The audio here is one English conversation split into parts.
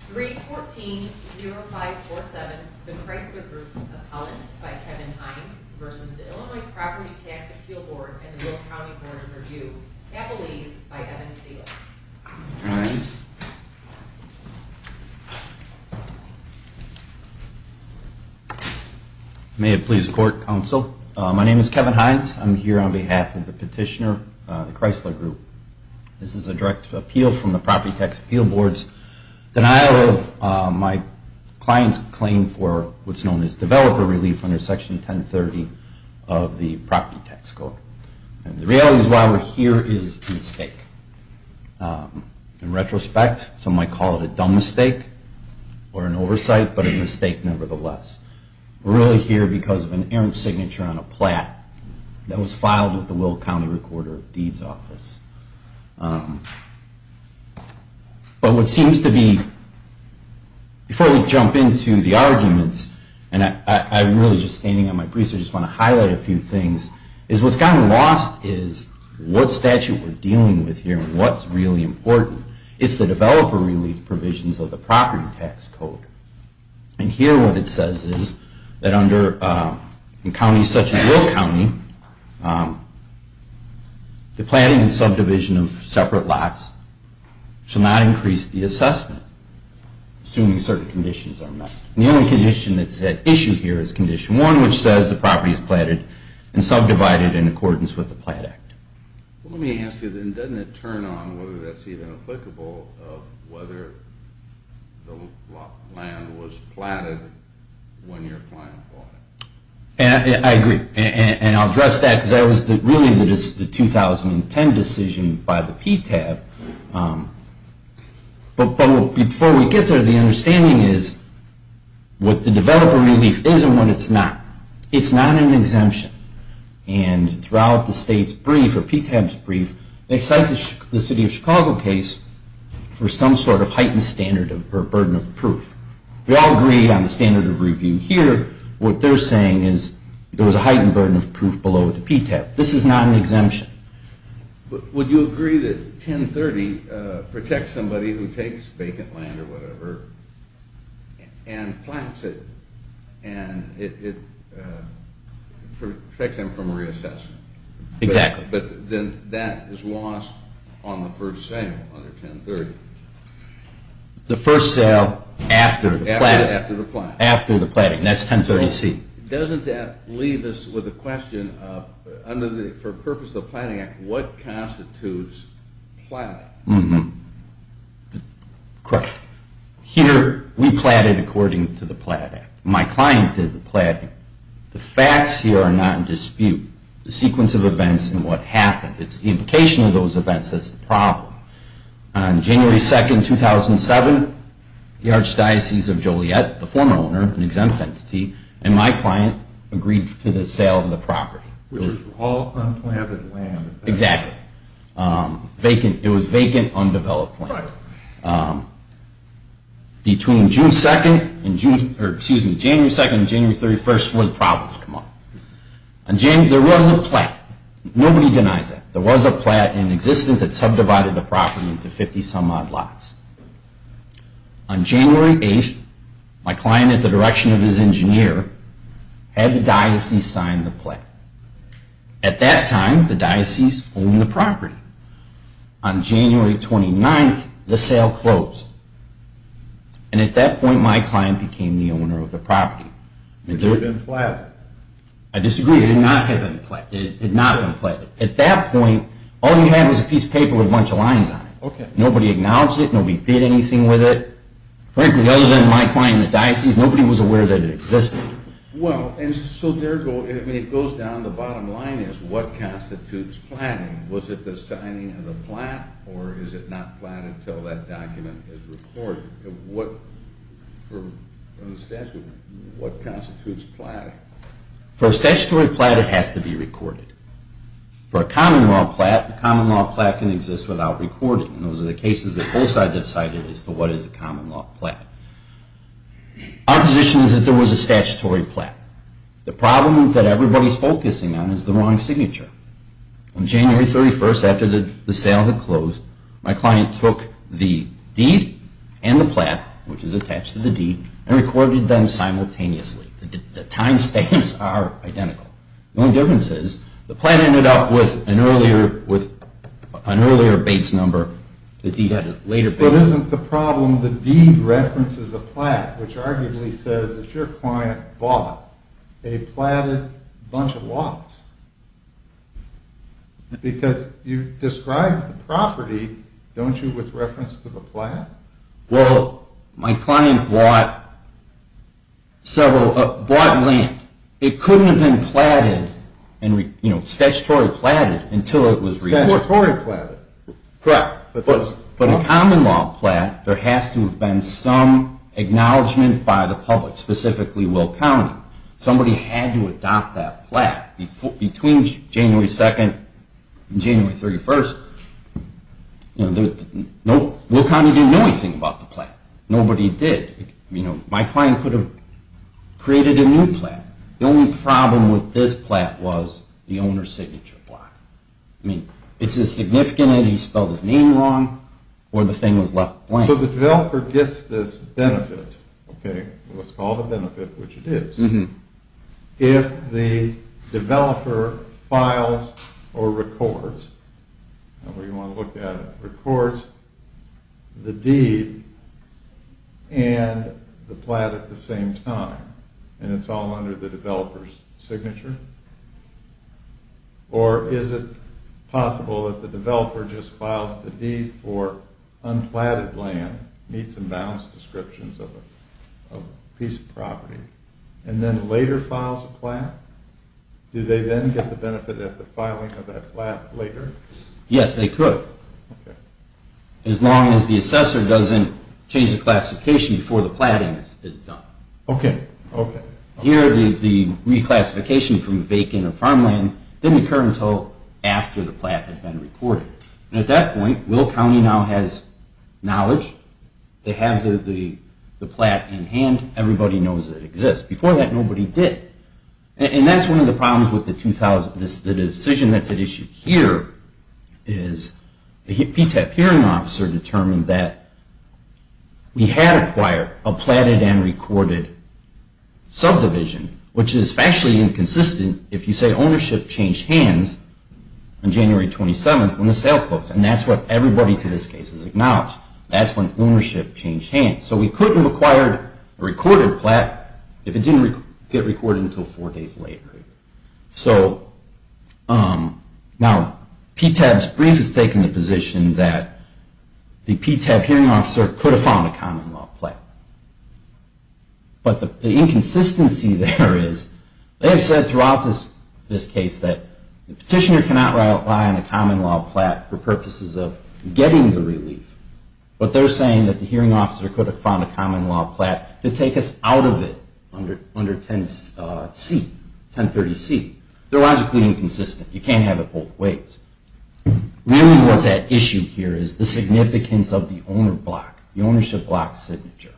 314-0547, The Chrysler Group, Appellant by Kevin Hines v. Illinois Property Tax Appeal Board and the Will County Board of Review, Appellees by Evan Segal. Kevin Hines. May it please the Court, Counsel. My name is Kevin Hines. I'm here on behalf of the petitioner, the Chrysler Group. This is a direct appeal from the Property Tax Appeal Board's denial of my client's claim for what's known as developer relief under Section 1030 of the Property Tax Code. And the reality is why we're here is a mistake. In retrospect, some might call it a dumb mistake or an oversight, but a mistake nevertheless. We're really here because of an errant signature on a plat that was filed with the Will County Recorder of Deeds Office. But what seems to be, before we jump into the arguments, and I'm really just standing on my briefs, I just want to highlight a few things. What's gotten lost is what statute we're dealing with here and what's really important. It's the developer relief provisions of the Property Tax Code. And here what it says is that under counties such as Will County, the planting and subdivision of separate lots should not increase the assessment, assuming certain conditions are met. And the only condition that's at issue here is Condition 1, which says the property is platted and subdivided in accordance with the Platt Act. Let me ask you then, doesn't it turn on whether that's even applicable of whether the land was platted when your client bought it? I agree. And I'll address that because that was really the 2010 decision by the PTAB. But before we get there, the understanding is what the developer relief is and what it's not. It's not an exemption. And throughout the state's brief, or PTAB's brief, they cite the City of Chicago case for some sort of heightened standard or burden of proof. We all agree on the standard of review here. What they're saying is there was a heightened burden of proof below the PTAB. This is not an exemption. But would you agree that 1030 protects somebody who takes vacant land or whatever and plants it and it protects them from reassessment? Exactly. But then that is lost on the first sale under 1030. The first sale after the planting. After the planting. That's 1030C. Doesn't that leave us with a question of, for the purpose of the Platt Act, what constitutes planting? Correct. Here we platted according to the Platt Act. My client did the platting. The facts here are not in dispute. The sequence of events and what happened. It's the implication of those events that's the problem. On January 2nd, 2007, the Archdiocese of Joliet, the former owner, an exempt entity, and my client agreed to the sale of the property. Which was all unplanted land. Exactly. It was vacant, undeveloped land. Between January 2nd and January 31st, what problems come up? There was a platt. Nobody denies that. There was a platt in existence that subdivided the property into 50 some odd lots. On January 8th, my client, at the direction of his engineer, had the diocese sign the platt. At that time, the diocese owned the property. On January 29th, the sale closed. And at that point, my client became the owner of the property. I disagree. It had not been platted. At that point, all you had was a piece of paper with a bunch of lines on it. Nobody acknowledged it. Nobody did anything with it. Frankly, other than my client and the diocese, nobody was aware that it existed. It goes down to the bottom line. What constitutes platting? Was it the signing of the platt or is it not platted until that document is recorded? What constitutes platting? For a statutory platt, it has to be recorded. For a common law platt, a common law platt can exist without recording. Those are the cases that both sides have cited as to what is a common law platt. Our position is that there was a statutory platt. The problem that everybody is focusing on is the wrong signature. On January 31st, after the sale had closed, my client took the deed and the platt, which is attached to the deed, and recorded them simultaneously. The time stamps are identical. The only difference is the platt ended up with an earlier base number. But isn't the problem that the deed references a platt, which arguably says that your client bought a platted bunch of lots? Because you described the property, don't you, with reference to the platt? Well, my client bought land. It couldn't have been statutory platted until it was registered. But a common law platt, there has to have been some acknowledgement by the public, specifically Will County. Somebody had to adopt that platt. Between January 2nd and January 31st, Will County didn't know anything about the platt. Nobody did. My client could have created a new platt. The only problem with this platt was the owner's signature platt. I mean, it's as significant as he spelled his name wrong or the thing was left blank. So the developer gets this benefit, what's called a benefit, which it is, if the developer files or records, however you want to look at it, records the deed and the platt at the same time, and it's all under the developer's signature? Or is it possible that the developer just files the deed for unplatted land, meets and bounds descriptions of a piece of property, and then later files a platt? Do they then get the benefit of the filing of that platt later? Yes, they could. As long as the assessor doesn't change the classification before the platting is done. Here, the reclassification from vacant or farmland didn't occur until after the platt has been recorded. And at that point, Will County now has knowledge. They have the platt in hand. Everybody knows it exists. Before that, nobody did. And that's one of the problems with the decision that's at issue here is the PTAP hearing officer determined that we had acquired a platted and recorded subdivision, which is actually inconsistent if you say ownership changed hands on January 27th, when the sale closed. And that's what everybody to this case has acknowledged. That's when ownership changed hands. So we could have acquired a recorded platt if it didn't get recorded until four days later. So now PTAP's brief has taken the position that the PTAP hearing officer could have found a common law platt. But the inconsistency there is they have said throughout this case that the petitioner cannot rely on a common law platt for purposes of getting the relief, but they're saying that the hearing officer could have found a common law platt to take us out of it under 10C, 1030C. They're logically inconsistent. You can't have it both ways. Really what's at issue here is the significance of the owner block, the ownership block signature.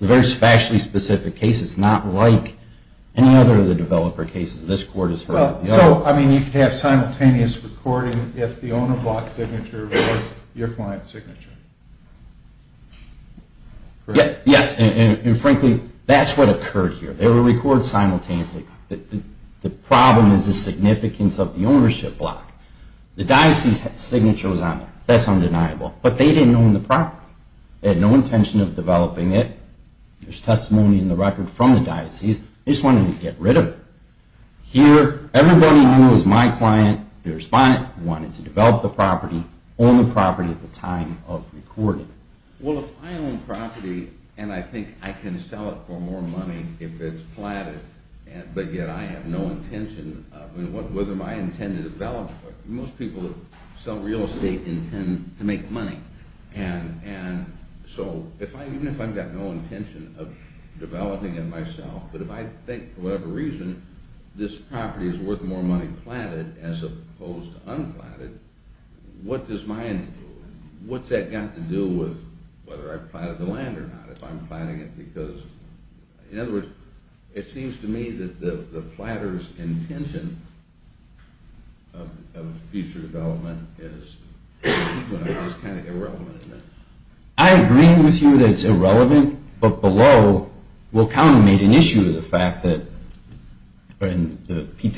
The very factually specific case is not like any other of the developer cases this court has heard. So, I mean, you could have simultaneous recording if the owner block signature was your client's signature? Yes. And frankly, that's what occurred here. They were recorded simultaneously. The problem is the significance of the ownership block. The diocese signature was on there. That's undeniable. But they didn't own the property. They had no intention of developing it. There's testimony in the record from the diocese. They just wanted to get rid of it. Here, everybody knew it was my client, the respondent, who wanted to develop the property, own the property at the time of recording. Well, if I own property and I think I can sell it for more money if it's platted, but yet I have no intention of – whether I intend to develop it. Most people that sell real estate intend to make money. And so, even if I've got no intention of developing it myself, but if I think for whatever reason this property is worth more money platted as opposed to un-platted, what does my – what's that got to do with whether I've platted the land or not if I'm platting it? Because, in other words, it seems to me that the platter's intention of future development is kind of irrelevant. I agree with you that it's irrelevant, but below, Will Cownan made an issue of the fact that – But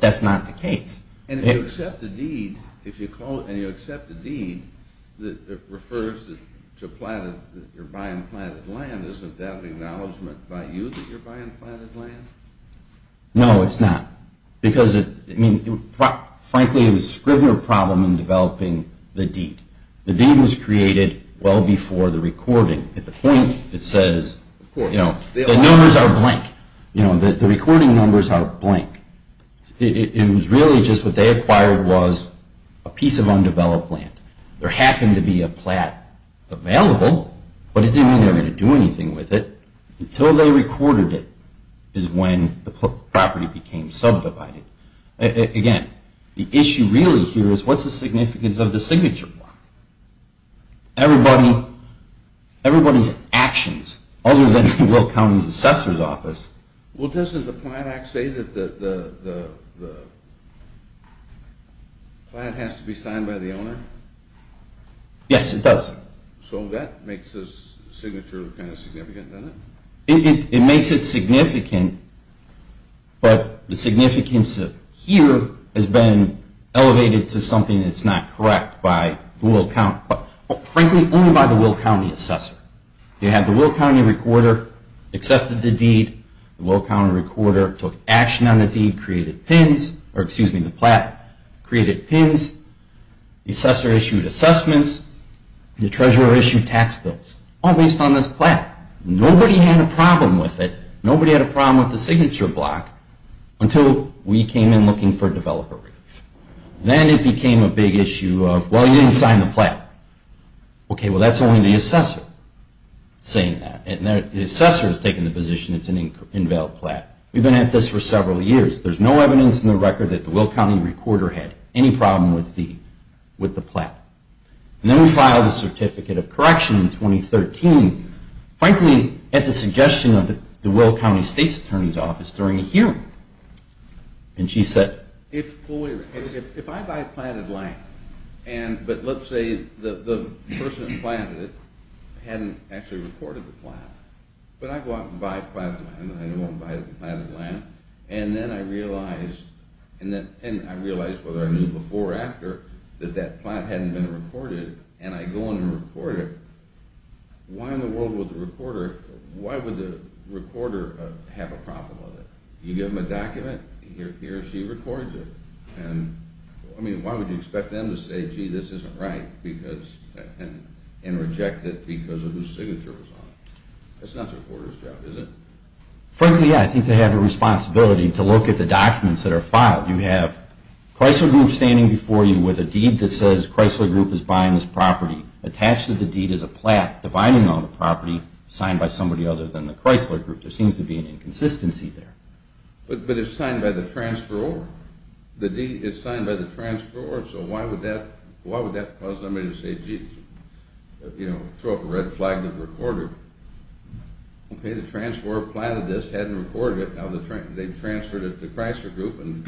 that's not the case. And if you accept a deed, and you accept a deed that refers to your buying platted land, isn't that an acknowledgement by you that you're buying platted land? No, it's not. Because, I mean, frankly, it was Scrivner's problem in developing the deed. The deed was created well before the recording. At the point, it says, you know, the numbers are blank. You know, the recording numbers are blank. It was really just what they acquired was a piece of undeveloped land. There happened to be a plat available, but it didn't mean they were going to do anything with it until they recorded it is when the property became subdivided. Again, the issue really here is what's the significance of the signature plot? Everybody's actions, other than Will Cownan's assessor's office – Well, doesn't the Plant Act say that the plant has to be signed by the owner? Yes, it does. So that makes the signature kind of significant, doesn't it? It makes it significant, but the significance here has been elevated to something that's not correct by the Will Cownan – but, frankly, only by the Will Cownan assessor. You have the Will Cownan recorder accepted the deed. The Will Cownan recorder took action on the deed, created pins – or, excuse me, the plat created pins. The assessor issued assessments. The treasurer issued tax bills, all based on this plat. Nobody had a problem with it. Nobody had a problem with the signature block until we came in looking for developer relief. Then it became a big issue of, well, you didn't sign the plat. Okay, well, that's only the assessor saying that. The assessor has taken the position it's an unveiled plat. We've been at this for several years. There's no evidence in the record that the Will Cownan recorder had any problem with the plat. And then we filed a certificate of correction in 2013, frankly, at the suggestion of the Will Cownan state attorney's office during a hearing. And she said, if I buy planted land, but let's say the person who planted it hadn't actually recorded the plat. But I go out and buy planted land, and then I realize whether I knew before or after that that plat hadn't been recorded, and I go in and record it. Why in the world would the recorder have a problem with it? You give them a document, he or she records it. I mean, why would you expect them to say, gee, this isn't right, and reject it because of whose signature was on it? That's not the recorder's job, is it? Frankly, yeah, I think they have a responsibility to look at the documents that are filed. You have Chrysler Group standing before you with a deed that says Chrysler Group is buying this property. Attached to the deed is a plat dividing on the property signed by somebody other than the Chrysler Group. There seems to be an inconsistency there. But it's signed by the transferor. The deed is signed by the transferor, so why would that cause somebody to say, gee, throw up a red flag that it was recorded? Okay, the transferor planted this, hadn't recorded it, now they've transferred it to Chrysler Group, and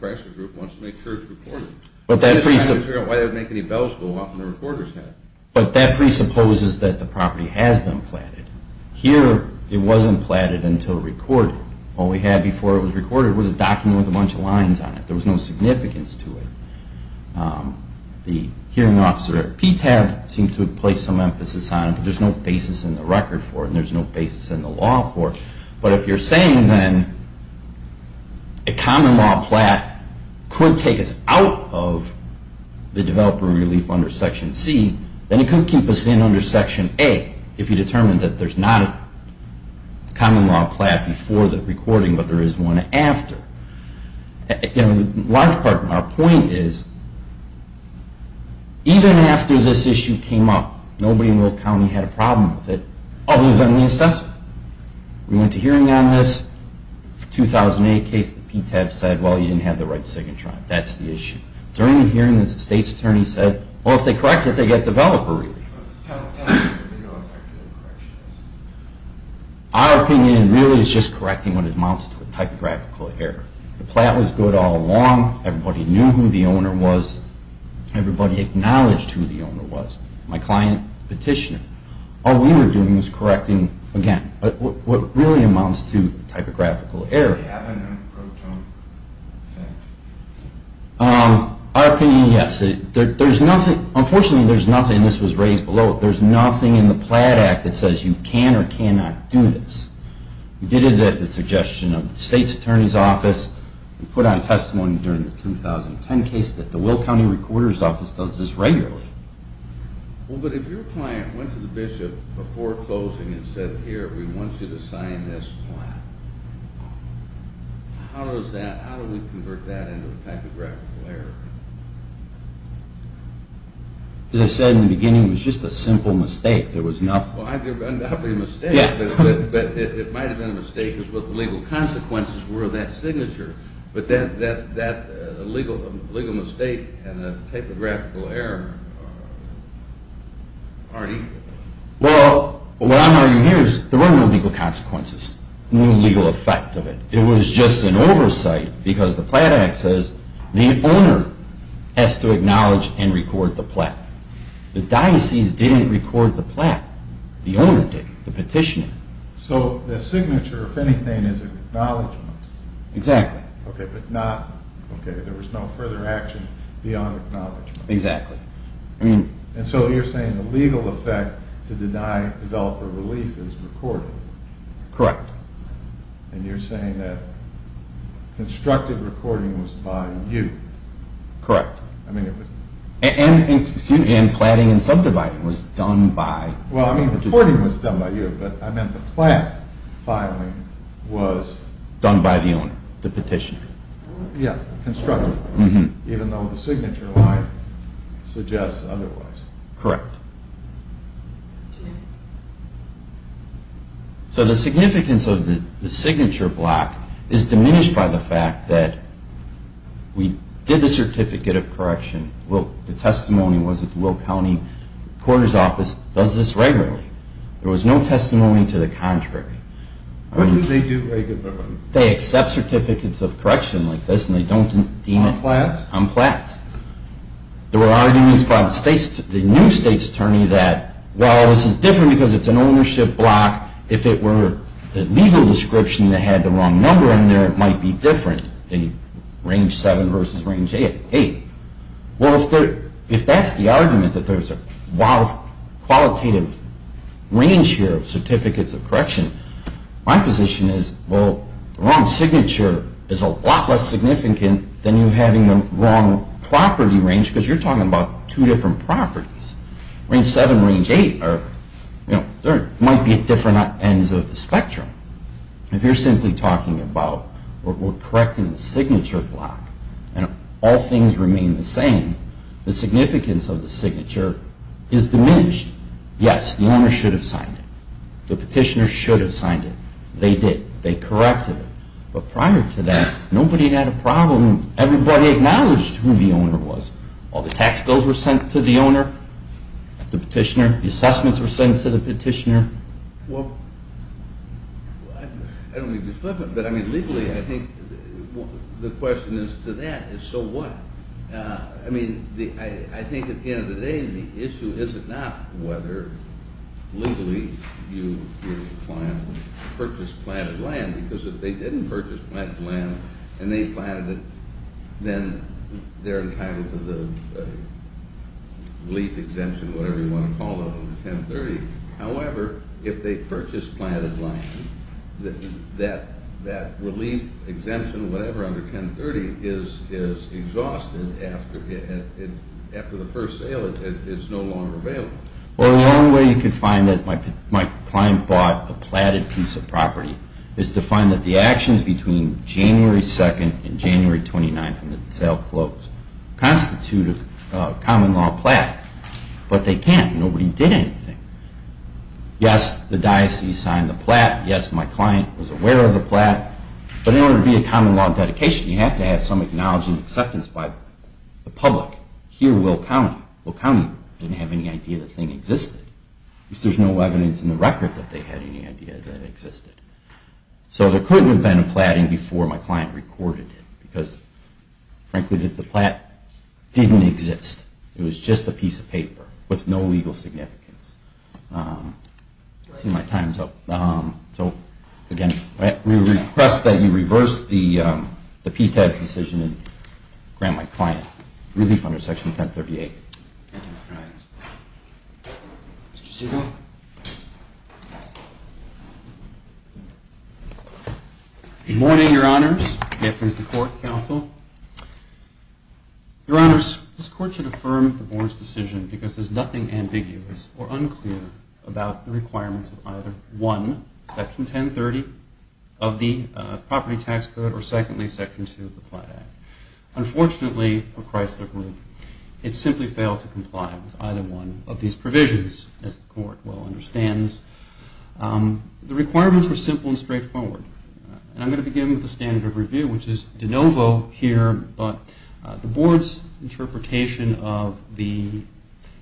Chrysler Group wants to make sure it's recorded. But that presupposes that the property has been planted. Here, it wasn't planted until recorded. All we had before it was recorded was a document with a bunch of lines on it. There was no significance to it. The hearing officer at PTAB seemed to have placed some emphasis on it, but there's no basis in the record for it, and there's no basis in the law for it. But if you're saying then a common law plat could take us out of the developer relief under Section C, then it could keep us in under Section A if you determine that there's not a common law plat before the recording, but there is one after. Again, in large part, our point is, even after this issue came up, nobody in Will County had a problem with it other than the assessment. We went to hearing on this 2008 case, the PTAB said, well, you didn't have the right to second try. That's the issue. During the hearing, the state's attorney said, well, if they correct it, they get developer relief. Our opinion really is just correcting what amounts to a typographical error. The plat was good all along. Everybody knew who the owner was. Everybody acknowledged who the owner was. My client petitioned. All we were doing was correcting, again, what really amounts to a typographical error. Does it have a non-proton effect? Our opinion, yes. Unfortunately, there's nothing, and this was raised below it, there's nothing in the plat act that says you can or cannot do this. We did it at the suggestion of the state's attorney's office. We put on testimony during the 2010 case that the Will County recorder's office does this regularly. Well, but if your client went to the bishop before closing and said, here, we want you to sign this plat, how does that, how do we convert that into a typographical error? As I said in the beginning, it was just a simple mistake. Well, it might not have been a mistake, but it might have been a mistake because what the legal consequences were of that signature. But that legal mistake and the typographical error aren't equal. Well, what I'm arguing here is there were no legal consequences, no legal effect of it. It was just an oversight because the plat act says the owner has to acknowledge and record the plat. The diocese didn't record the plat. The owner didn't. The petitioner. So the signature, if anything, is acknowledgement. Exactly. Okay, but not, okay, there was no further action beyond acknowledgement. Exactly. And so you're saying the legal effect to deny developer relief is recording. Correct. And you're saying that constructive recording was by you. Correct. And platting and subdividing was done by. Well, I mean, recording was done by you, but I meant the plat filing was. Done by the owner, the petitioner. Yeah, constructive, even though the signature line suggests otherwise. Correct. Two minutes. So the significance of the signature block is diminished by the fact that we did the certificate of correction. The testimony was that the Will County Courthouse office does this regularly. There was no testimony to the contrary. What do they do regularly? They accept certificates of correction like this and they don't deem it. On plats? On plats. There were arguments by the new state's attorney that, well, this is different because it's an ownership block. If it were a legal description that had the wrong number in there, it might be different than range 7 versus range 8. Well, if that's the argument, that there's a lot of qualitative range here of certificates of correction, my position is, well, the wrong signature is a lot less significant than you having the wrong property range because you're talking about two different properties. Range 7 and range 8 might be at different ends of the spectrum. If you're simply talking about correcting the signature block and all things remain the same, the significance of the signature is diminished. Yes, the owner should have signed it. The petitioner should have signed it. They did. They corrected it. But prior to that, nobody had a problem. Everybody acknowledged who the owner was. All the tax bills were sent to the owner, the petitioner. The assessments were sent to the petitioner. Well, I don't mean to be flippant, but, I mean, legally, I think the question is to that is so what? I mean, I think at the end of the day, the issue is not whether legally you purchase planted land because if they didn't purchase planted land and they planted it, then they're entitled to the relief exemption, whatever you want to call it, under 1030. is exhausted after the first sale. It is no longer available. Well, the only way you could find that my client bought a platted piece of property is to find that the actions between January 2nd and January 29th when the sale closed constitute a common law plat. But they can't. Nobody did anything. Yes, the diocese signed the plat. Yes, my client was aware of the plat. But in order to be a common law dedication, you have to have some acknowledgement and acceptance by the public. Here, Will County. Will County didn't have any idea the thing existed. At least there's no evidence in the record that they had any idea that it existed. So there could have been a platting before my client recorded it because, frankly, the plat didn't exist. It was just a piece of paper with no legal significance. See my time's up. So, again, we request that you reverse the PTAB's decision and grant my client relief under Section 1038. Thank you, Your Honor. Mr. Segal. Good morning, Your Honors. Gaffney is the court counsel. Your Honors, this court should affirm the Boren's decision because there's nothing ambiguous or unclear about the requirements of either one, Section 1030 of the Property Tax Code, or secondly, Section 2 of the Plat Act. Unfortunately, for Chrysler Group, it simply failed to comply with either one of these provisions, as the court well understands. The requirements were simple and straightforward. And I'm going to begin with the standard of review, which is de novo here, but the Board's interpretation of the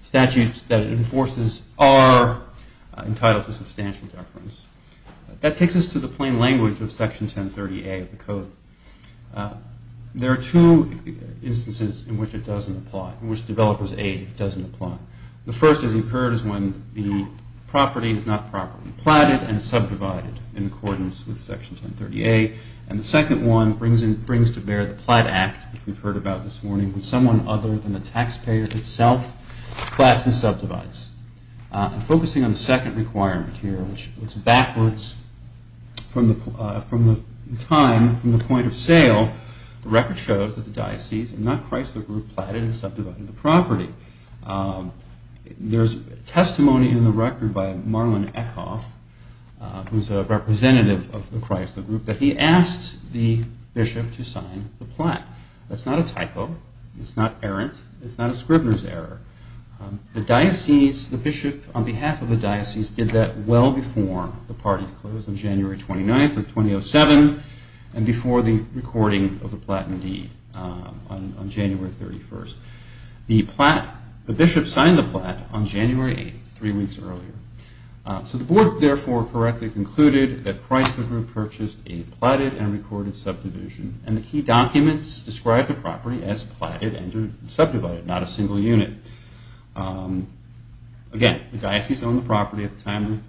statutes that it enforces are entitled to substantial deference. That takes us to the plain language of Section 1030A of the code. There are two instances in which it doesn't apply, in which developer's aid doesn't apply. The first, as you've heard, is when the property is not properly platted and subdivided in accordance with Section 1030A. And the second one brings to bear the Plat Act, which we've heard about this morning, when someone other than the taxpayer itself plats and subdivides. Focusing on the second requirement here, which looks backwards from the time, from the point of sale, the record shows that the diocese and not Chrysler Group had platted and subdivided the property. There's testimony in the record by Marlon Eckhoff, who's a representative of the Chrysler Group, that he asked the bishop to sign the plat. That's not a typo. It's not errant. It's not a Scribner's error. The diocese, the bishop on behalf of the diocese, did that well before the party closed on January 29th of 2007 and before the recording of the plat indeed on January 31st. The bishop signed the plat on January 8th, three weeks earlier. So the board, therefore, correctly concluded that Chrysler Group purchased a platted and recorded subdivision. And the key documents describe the property as platted and subdivided, not a single unit. Again, the diocese owned the property at the time of the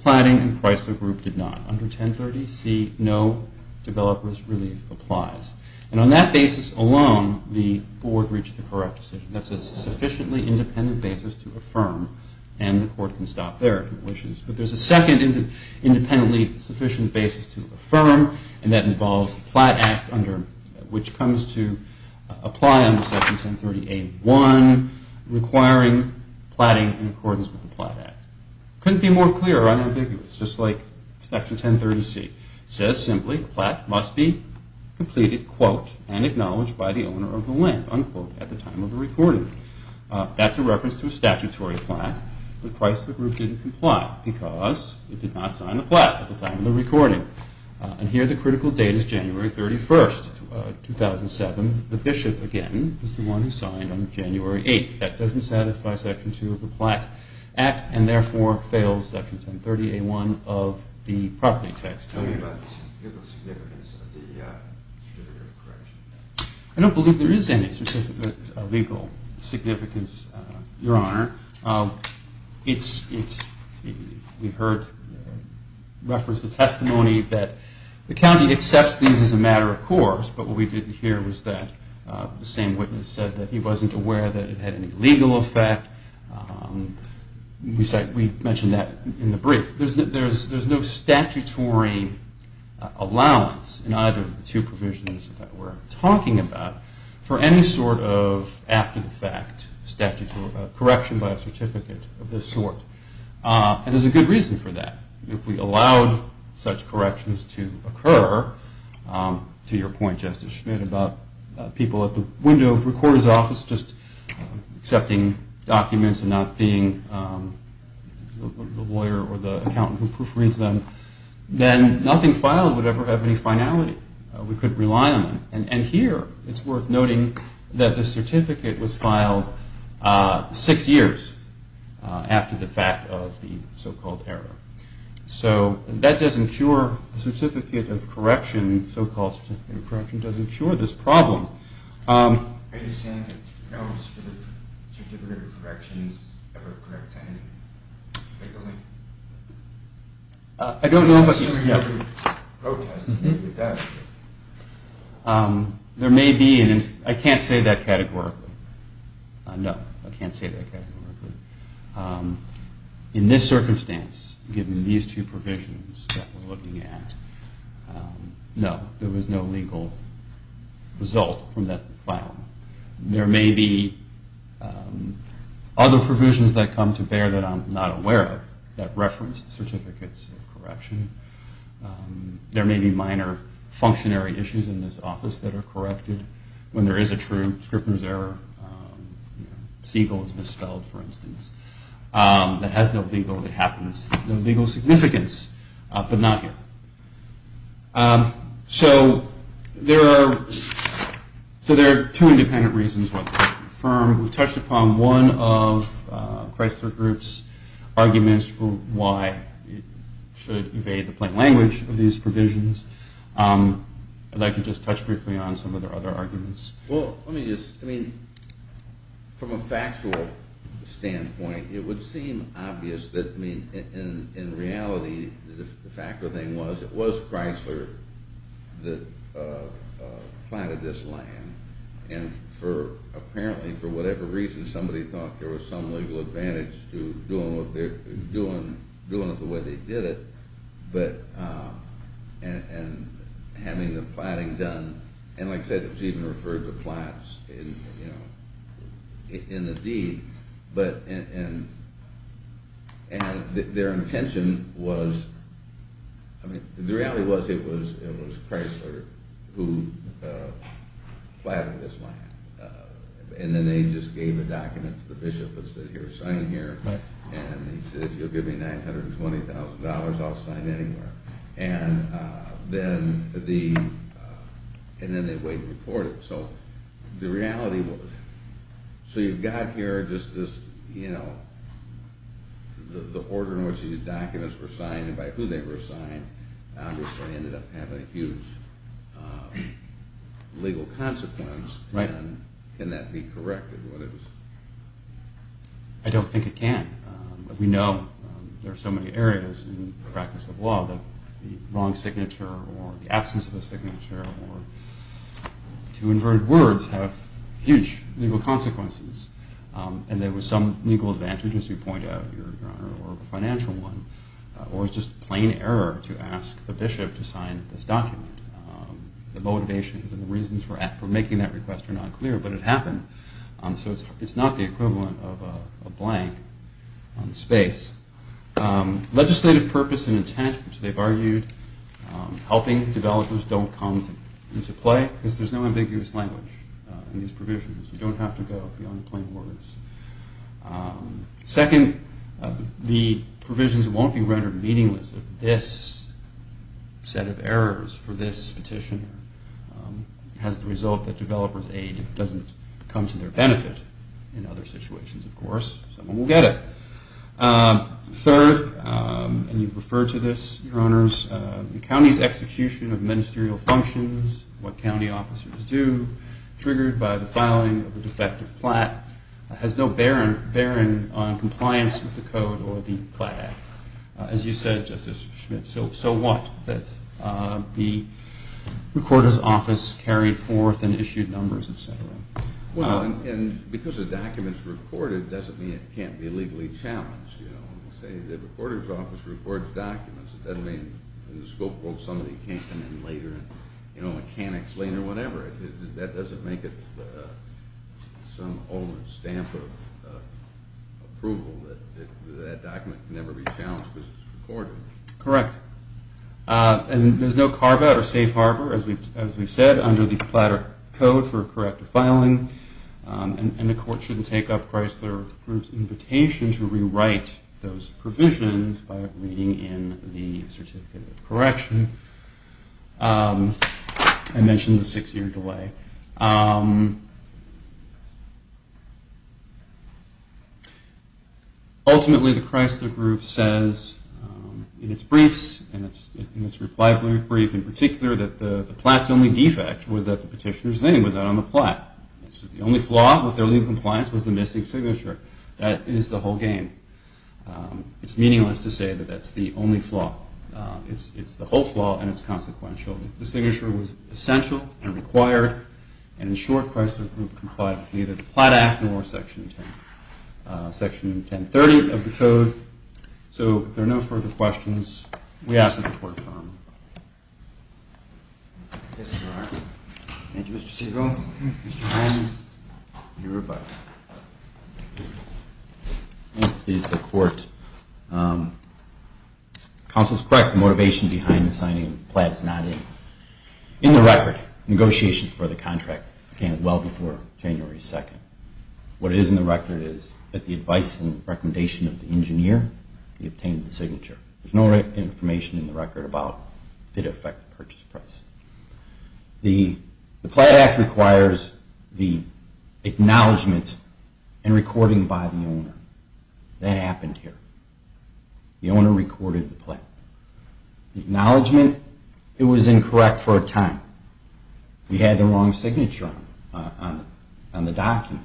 platting, and Chrysler Group did not. Under 1030C, no developer's relief applies. And on that basis alone, the board reached the correct decision. That's a sufficiently independent basis to affirm, and the court can stop there if it wishes. But there's a second independently sufficient basis to affirm, and that involves the Plat Act, which comes to apply under Section 1030A1, requiring platting in accordance with the Plat Act. Couldn't be more clear or unambiguous, just like Section 1030C. It says simply, a plat must be completed, quote, and acknowledged by the owner of the land, unquote, at the time of the recording. That's a reference to a statutory plat, but Chrysler Group didn't comply because it did not sign the plat at the time of the recording. And here the critical date is January 31st, 2007. The bishop, again, is the one who signed on January 8th. That doesn't satisfy Section 2 of the Plat Act, and therefore fails Section 1030A1 of the property tax code. Tell me about the significance of the certificate of correction. I don't believe there is any certificate of legal significance, Your Honor. We heard reference to testimony that the county accepts these as a matter of course, but what we didn't hear was that the same witness said that he wasn't aware that it had any legal effect. We mentioned that in the brief. There's no statutory allowance in either of the two provisions that we're talking about for any sort of after-the-fact correction by a certificate of this sort. And there's a good reason for that. If we allowed such corrections to occur, to your point, Justice Schmidt, about people at the window of the recorder's office just accepting documents and not being the lawyer or the accountant who proofreads them, then nothing filed would ever have any finality. We couldn't rely on them. And here it's worth noting that the certificate was filed six years after the fact of the so-called error. So that doesn't cure the certificate of correction, the so-called certificate of correction doesn't cure this problem. Are you saying that no certificate of correction ever corrects anything legally? I don't know if I can answer that. There may be, and I can't say that categorically. No, I can't say that categorically. In this circumstance, given these two provisions that we're looking at, no, there was no legal result from that filing. There may be other provisions that come to bear that I'm not aware of that reference certificates of correction. There may be minor functionary issues in this office that are corrected. When there is a true Scrippner's error, Siegel is misspelled, for instance, that has no legal significance, but not here. So there are two independent reasons why they're not confirmed. We've touched upon one of Chrysler Group's arguments for why it should evade the plain language of these provisions. I'd like to just touch briefly on some of their other arguments. Well, let me just, I mean, from a factual standpoint, it would seem obvious that, I mean, in reality, the fact of the thing was it was Chrysler that planted this land, and for, apparently, for whatever reason, somebody thought there was some legal advantage to doing it the way they did it, but, and having the planting done, and like I said, Stephen referred to plants in the deed, but, and their intention was, I mean, the reality was it was Chrysler who planted this land, and then they just gave a document to the bishop and said, here, sign here, and he said, you'll give me $920,000, I'll sign anywhere, and then they wait to report it. So the reality was, so you've got here just this, you know, the order in which these documents were signed and by who they were signed obviously ended up having a huge legal consequence, and can that be corrected? I don't think it can. We know there are so many areas in the practice of law that the wrong signature or the absence of a signature or two inverted words have huge legal consequences, and there was some legal advantage, as you point out, Your Honor, or a financial one, or it's just plain error to ask the bishop to sign this document. The motivations and the reasons for making that request are not clear, but it happened, so it's not the equivalent of a blank on the space. Legislative purpose and intent, which they've argued, helping developers don't come into play, because there's no ambiguous language in these provisions. You don't have to go beyond plain words. Second, the provisions won't be rendered meaningless if this set of errors for this petition has the result that developers' aid doesn't come to their benefit. In other situations, of course, someone will get it. Third, and you've referred to this, Your Honors, the county's execution of ministerial functions, what county officers do, triggered by the filing of a defective plat, has no bearing on compliance with the code or the plat act. As you said, Justice Schmidt, so what? The recorder's office carried forth and issued numbers, et cetera. Well, and because a document's recorded doesn't mean it can't be legally challenged. You say the recorder's office records documents. That doesn't mean in the scope of somebody can't come in later and can't explain or whatever. That doesn't make it some old stamp of approval that that document can never be challenged because it's recorded. Correct. And there's no carve-out or safe harbor, as we've said, under the plat or code for corrective filing. And the court shouldn't take up Chrysler Group's invitation to rewrite those provisions by reading in the certificate of correction. I mentioned the six-year delay. Okay. Ultimately, the Chrysler Group says in its briefs, in its reply brief in particular, that the plat's only defect was that the petitioner's name was not on the plat. The only flaw with their legal compliance was the missing signature. That is the whole game. It's meaningless to say that that's the only flaw. It's the whole flaw, and it's consequential. The signature was essential and required, and in short, Chrysler Group complied with neither the Plat Act nor Section 1030 of the code. So there are no further questions. We ask that the Court confirm. Yes, Your Honor. Thank you, Mr. Segal. Mr. Hines. Your rebuttal. Please, the Court. Counsel is correct. The motivation behind the signing of the plat is not in it. In the record, negotiations for the contract began well before January 2nd. What is in the record is that the advice and recommendation of the engineer, he obtained the signature. There's no information in the record about did it affect the purchase price. The Plat Act requires the acknowledgment and recording by the owner. That happened here. The owner recorded the plat. The acknowledgment, it was incorrect for a time. We had the wrong signature on the document.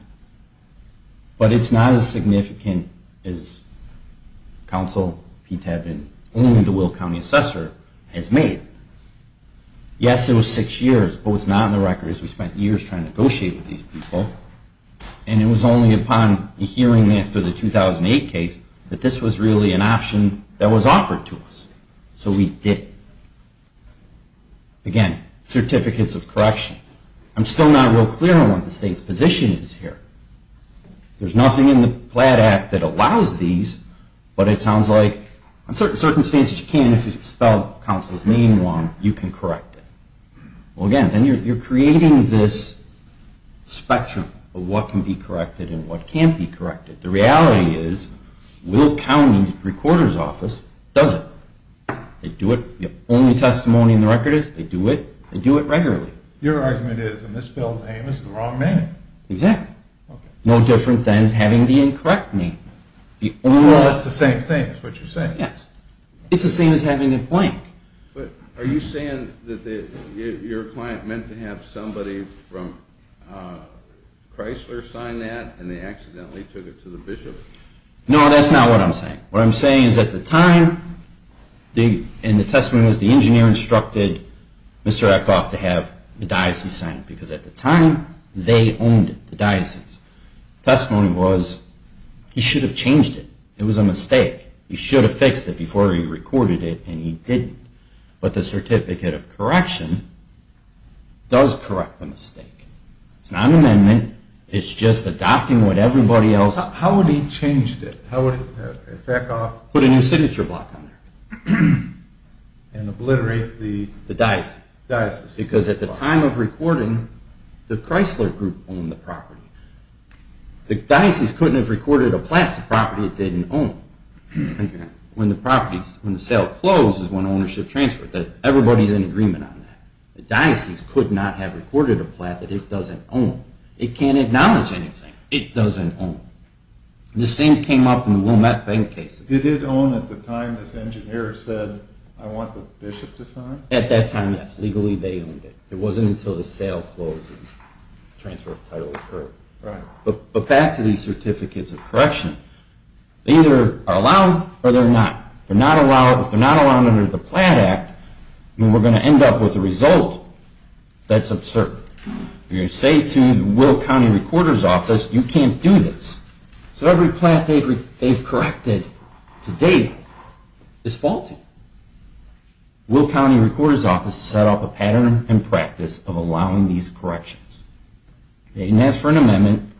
But it's not as significant as Counsel P. Tevin, only the Will County Assessor, has made. Yes, it was six years, but what's not in the record is we spent years trying to negotiate with these people, and it was only upon hearing after the 2008 case that this was really an option that was offered to us. So we did it. Again, certificates of correction. I'm still not real clear on what the state's position is here. There's nothing in the Plat Act that allows these, but it sounds like on certain circumstances you can if you spell counsel's name wrong, you can correct it. Well, again, then you're creating this spectrum of what can be corrected and what can't be corrected. The reality is Will County Recorder's Office does it. They do it. The only testimony in the record is they do it. They do it regularly. Your argument is a misspelled name is the wrong name. Exactly. Okay. No different than having the incorrect name. Well, that's the same thing is what you're saying. Yes. It's the same as having it blank. Are you saying that your client meant to have somebody from Chrysler sign that and they accidentally took it to the bishop? No, that's not what I'm saying. What I'm saying is at the time, and the testimony was the engineer instructed Mr. Eckhoff to have the diocese sign it, because at the time they owned it, the diocese. The testimony was he should have changed it. It was a mistake. He should have fixed it before he recorded it, and he didn't. But the certificate of correction does correct the mistake. It's not an amendment. It's just adopting what everybody else. How would he have changed it? Put a new signature block on there. And obliterate the diocese. The diocese couldn't have recorded a plat to property it didn't own. When the sale closed is when ownership transferred. Everybody's in agreement on that. The diocese could not have recorded a plat that it doesn't own. It can't acknowledge anything. It doesn't own. The same came up in the Wilmette Bank case. Did it own at the time this engineer said, I want the bishop to sign? At that time, yes. Legally, they owned it. It wasn't until the sale closed that the transfer of title occurred. But back to these certificates of correction. They either are allowed or they're not. If they're not allowed under the Plat Act, then we're going to end up with a result that's absurd. You say to the Will County Recorder's Office, you can't do this. So every plat they've corrected to date is faulty. Will County Recorder's Office set up a pattern and practice of allowing these corrections. They asked for an amendment.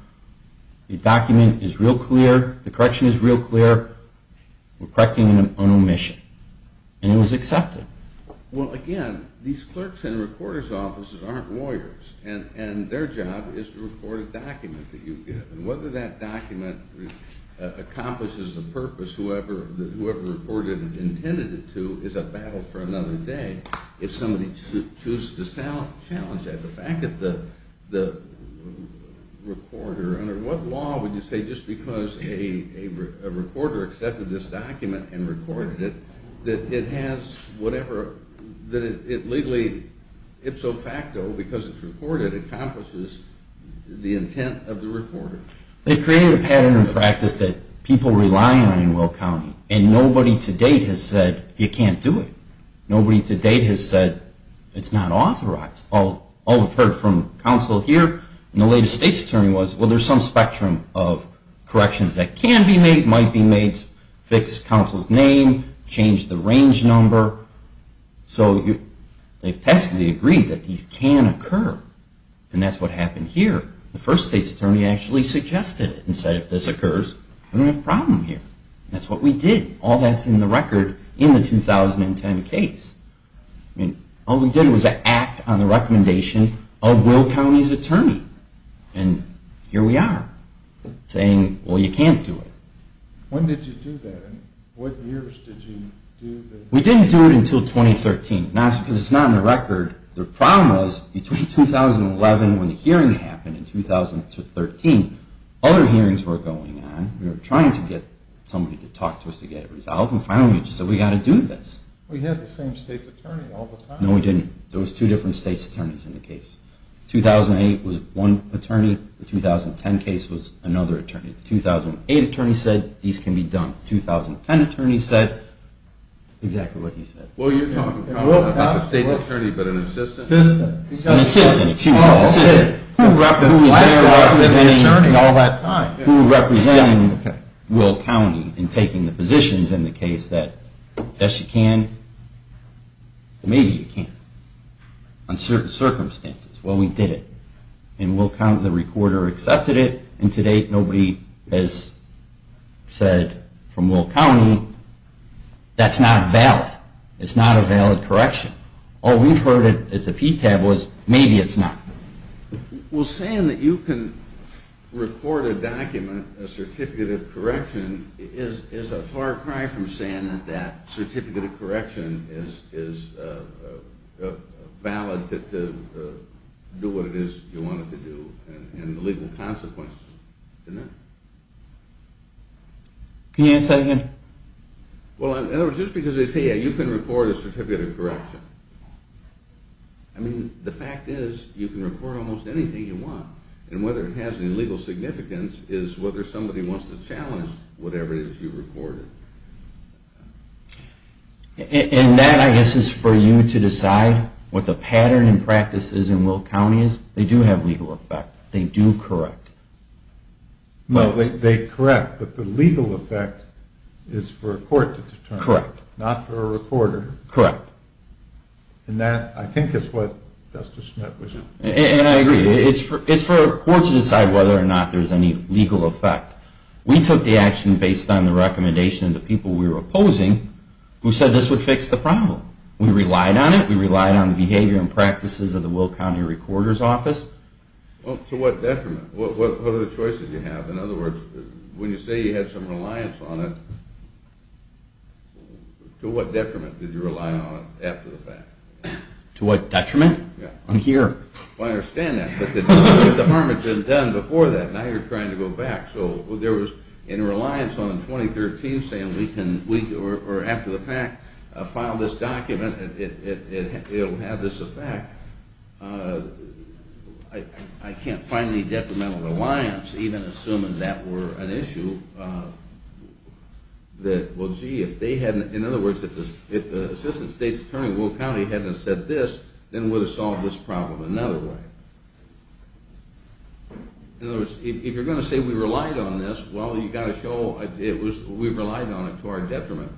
The document is real clear. The correction is real clear. We're correcting an omission. And it was accepted. Well, again, these clerks in the recorder's offices aren't lawyers. And their job is to record a document that you give. And whether that document accomplishes a purpose, whoever recorded it and intended it to, is a battle for another day. If somebody chooses to challenge that, the fact that the recorder, under what law would you say just because a recorder accepted this document and recorded it, that it has whatever, that it legally, ipso facto, because it's recorded, accomplishes the intent of the recorder? They created a pattern and practice that people rely on in Will County. And nobody to date has said you can't do it. Nobody to date has said it's not authorized. All we've heard from counsel here and the latest state's attorney was, well, there's some spectrum of corrections that can be made, might be made, fix counsel's name, change the range number. So they've passively agreed that these can occur. And that's what happened here. The first state's attorney actually suggested it and said if this occurs, we're going to have a problem here. That's what we did. All that's in the record in the 2010 case. All we did was act on the recommendation of Will County's attorney. And here we are saying, well, you can't do it. When did you do that? What years did you do that? We didn't do it until 2013. Because it's not in the record. The problem was between 2011 when the hearing happened and 2013, other hearings were going on. We were trying to get somebody to talk to us to get it resolved. And finally we just said we've got to do this. We had the same state's attorney all the time. No, we didn't. There was two different state's attorneys in the case. 2008 was one attorney. The 2010 case was another attorney. 2008 attorney said these can be done. 2010 attorney said exactly what he said. Well, you're talking about the state's attorney but an assistant? Assistant. An assistant. Who was there representing Will County in taking the positions in the case that yes, you can, maybe you can't. On certain circumstances. Well, we did it. And Will County, the recorder, accepted it. And to date nobody has said from Will County that's not valid. It's not a valid correction. All we've heard at the PTAB was maybe it's not. Well, saying that you can record a document, a certificate of correction, is a far cry from saying that certificate of correction is valid to do what it is you want it to do and the legal consequences of it. Can you answer that again? Well, just because they say you can record a certificate of correction. I mean, the fact is you can record almost anything you want. And whether it has any legal significance is whether somebody wants to challenge whatever it is you recorded. And that, I guess, is for you to decide what the pattern in practice is in Will County is. They do have legal effect. They do correct. Well, they correct, but the legal effect is for a court to determine. Correct. Not for a recorder. Correct. And that, I think, is what Justice Schmitt was saying. And I agree. It's for a court to decide whether or not there's any legal effect. We took the action based on the recommendation of the people we were opposing who said this would fix the problem. We relied on it. We relied on the behavior and practices of the Will County Recorder's Office. Well, to what detriment? What other choices did you have? In other words, when you say you had some reliance on it, to what detriment did you rely on it after the fact? To what detriment? I'm here. I understand that. But the harm had been done before that, and now you're trying to go back. So there was a reliance on it in 2013 saying we can, or after the fact, file this document. It will have this effect. I can't find any detrimental reliance, even assuming that were an issue, that, well, gee, if they hadn't, in other words, if the Assistant State's Attorney at Will County hadn't said this, then it would have solved this problem in another way. In other words, if you're going to say we relied on this, well, you've got to show we relied on it to our detriment.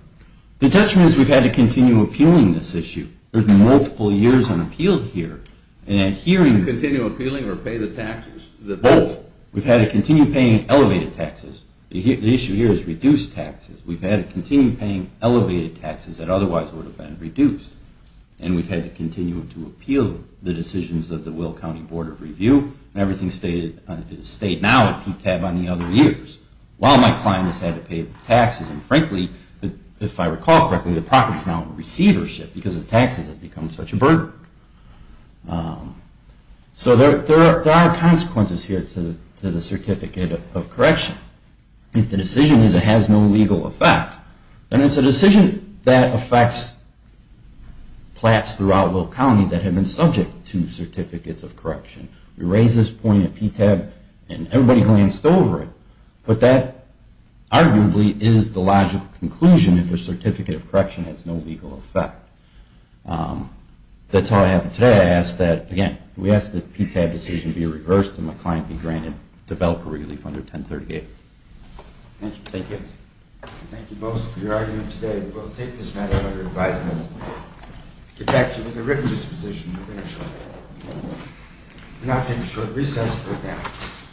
The detriment is we've had to continue appealing this issue. There's been multiple years on appeal here. Continue appealing or pay the taxes? Both. We've had to continue paying elevated taxes. The issue here is reduced taxes. We've had to continue paying elevated taxes that otherwise would have been reduced. And we've had to continue to appeal the decisions of the Will County Board of Review. Everything is stated now on the other years. While my client has had to pay the taxes, and frankly, if I recall correctly, the property is now in receivership because the taxes have become such a burden. So there are consequences here to the Certificate of Correction. If the decision is it has no legal effect, then it's a decision that affects plats throughout Will County that have been subject to Certificates of Correction. We raised this point at PTAB and everybody glanced over it, but that arguably is the logical conclusion if a Certificate of Correction has no legal effect. That's all I have. Today I ask that, again, we ask that the PTAB decision be reversed and my client be granted developer relief under 1038. Thank you. Thank you both for your argument today. We will take this matter under advisement. It's actually been a written disposition to finish on that. And I'll take a short recess for now.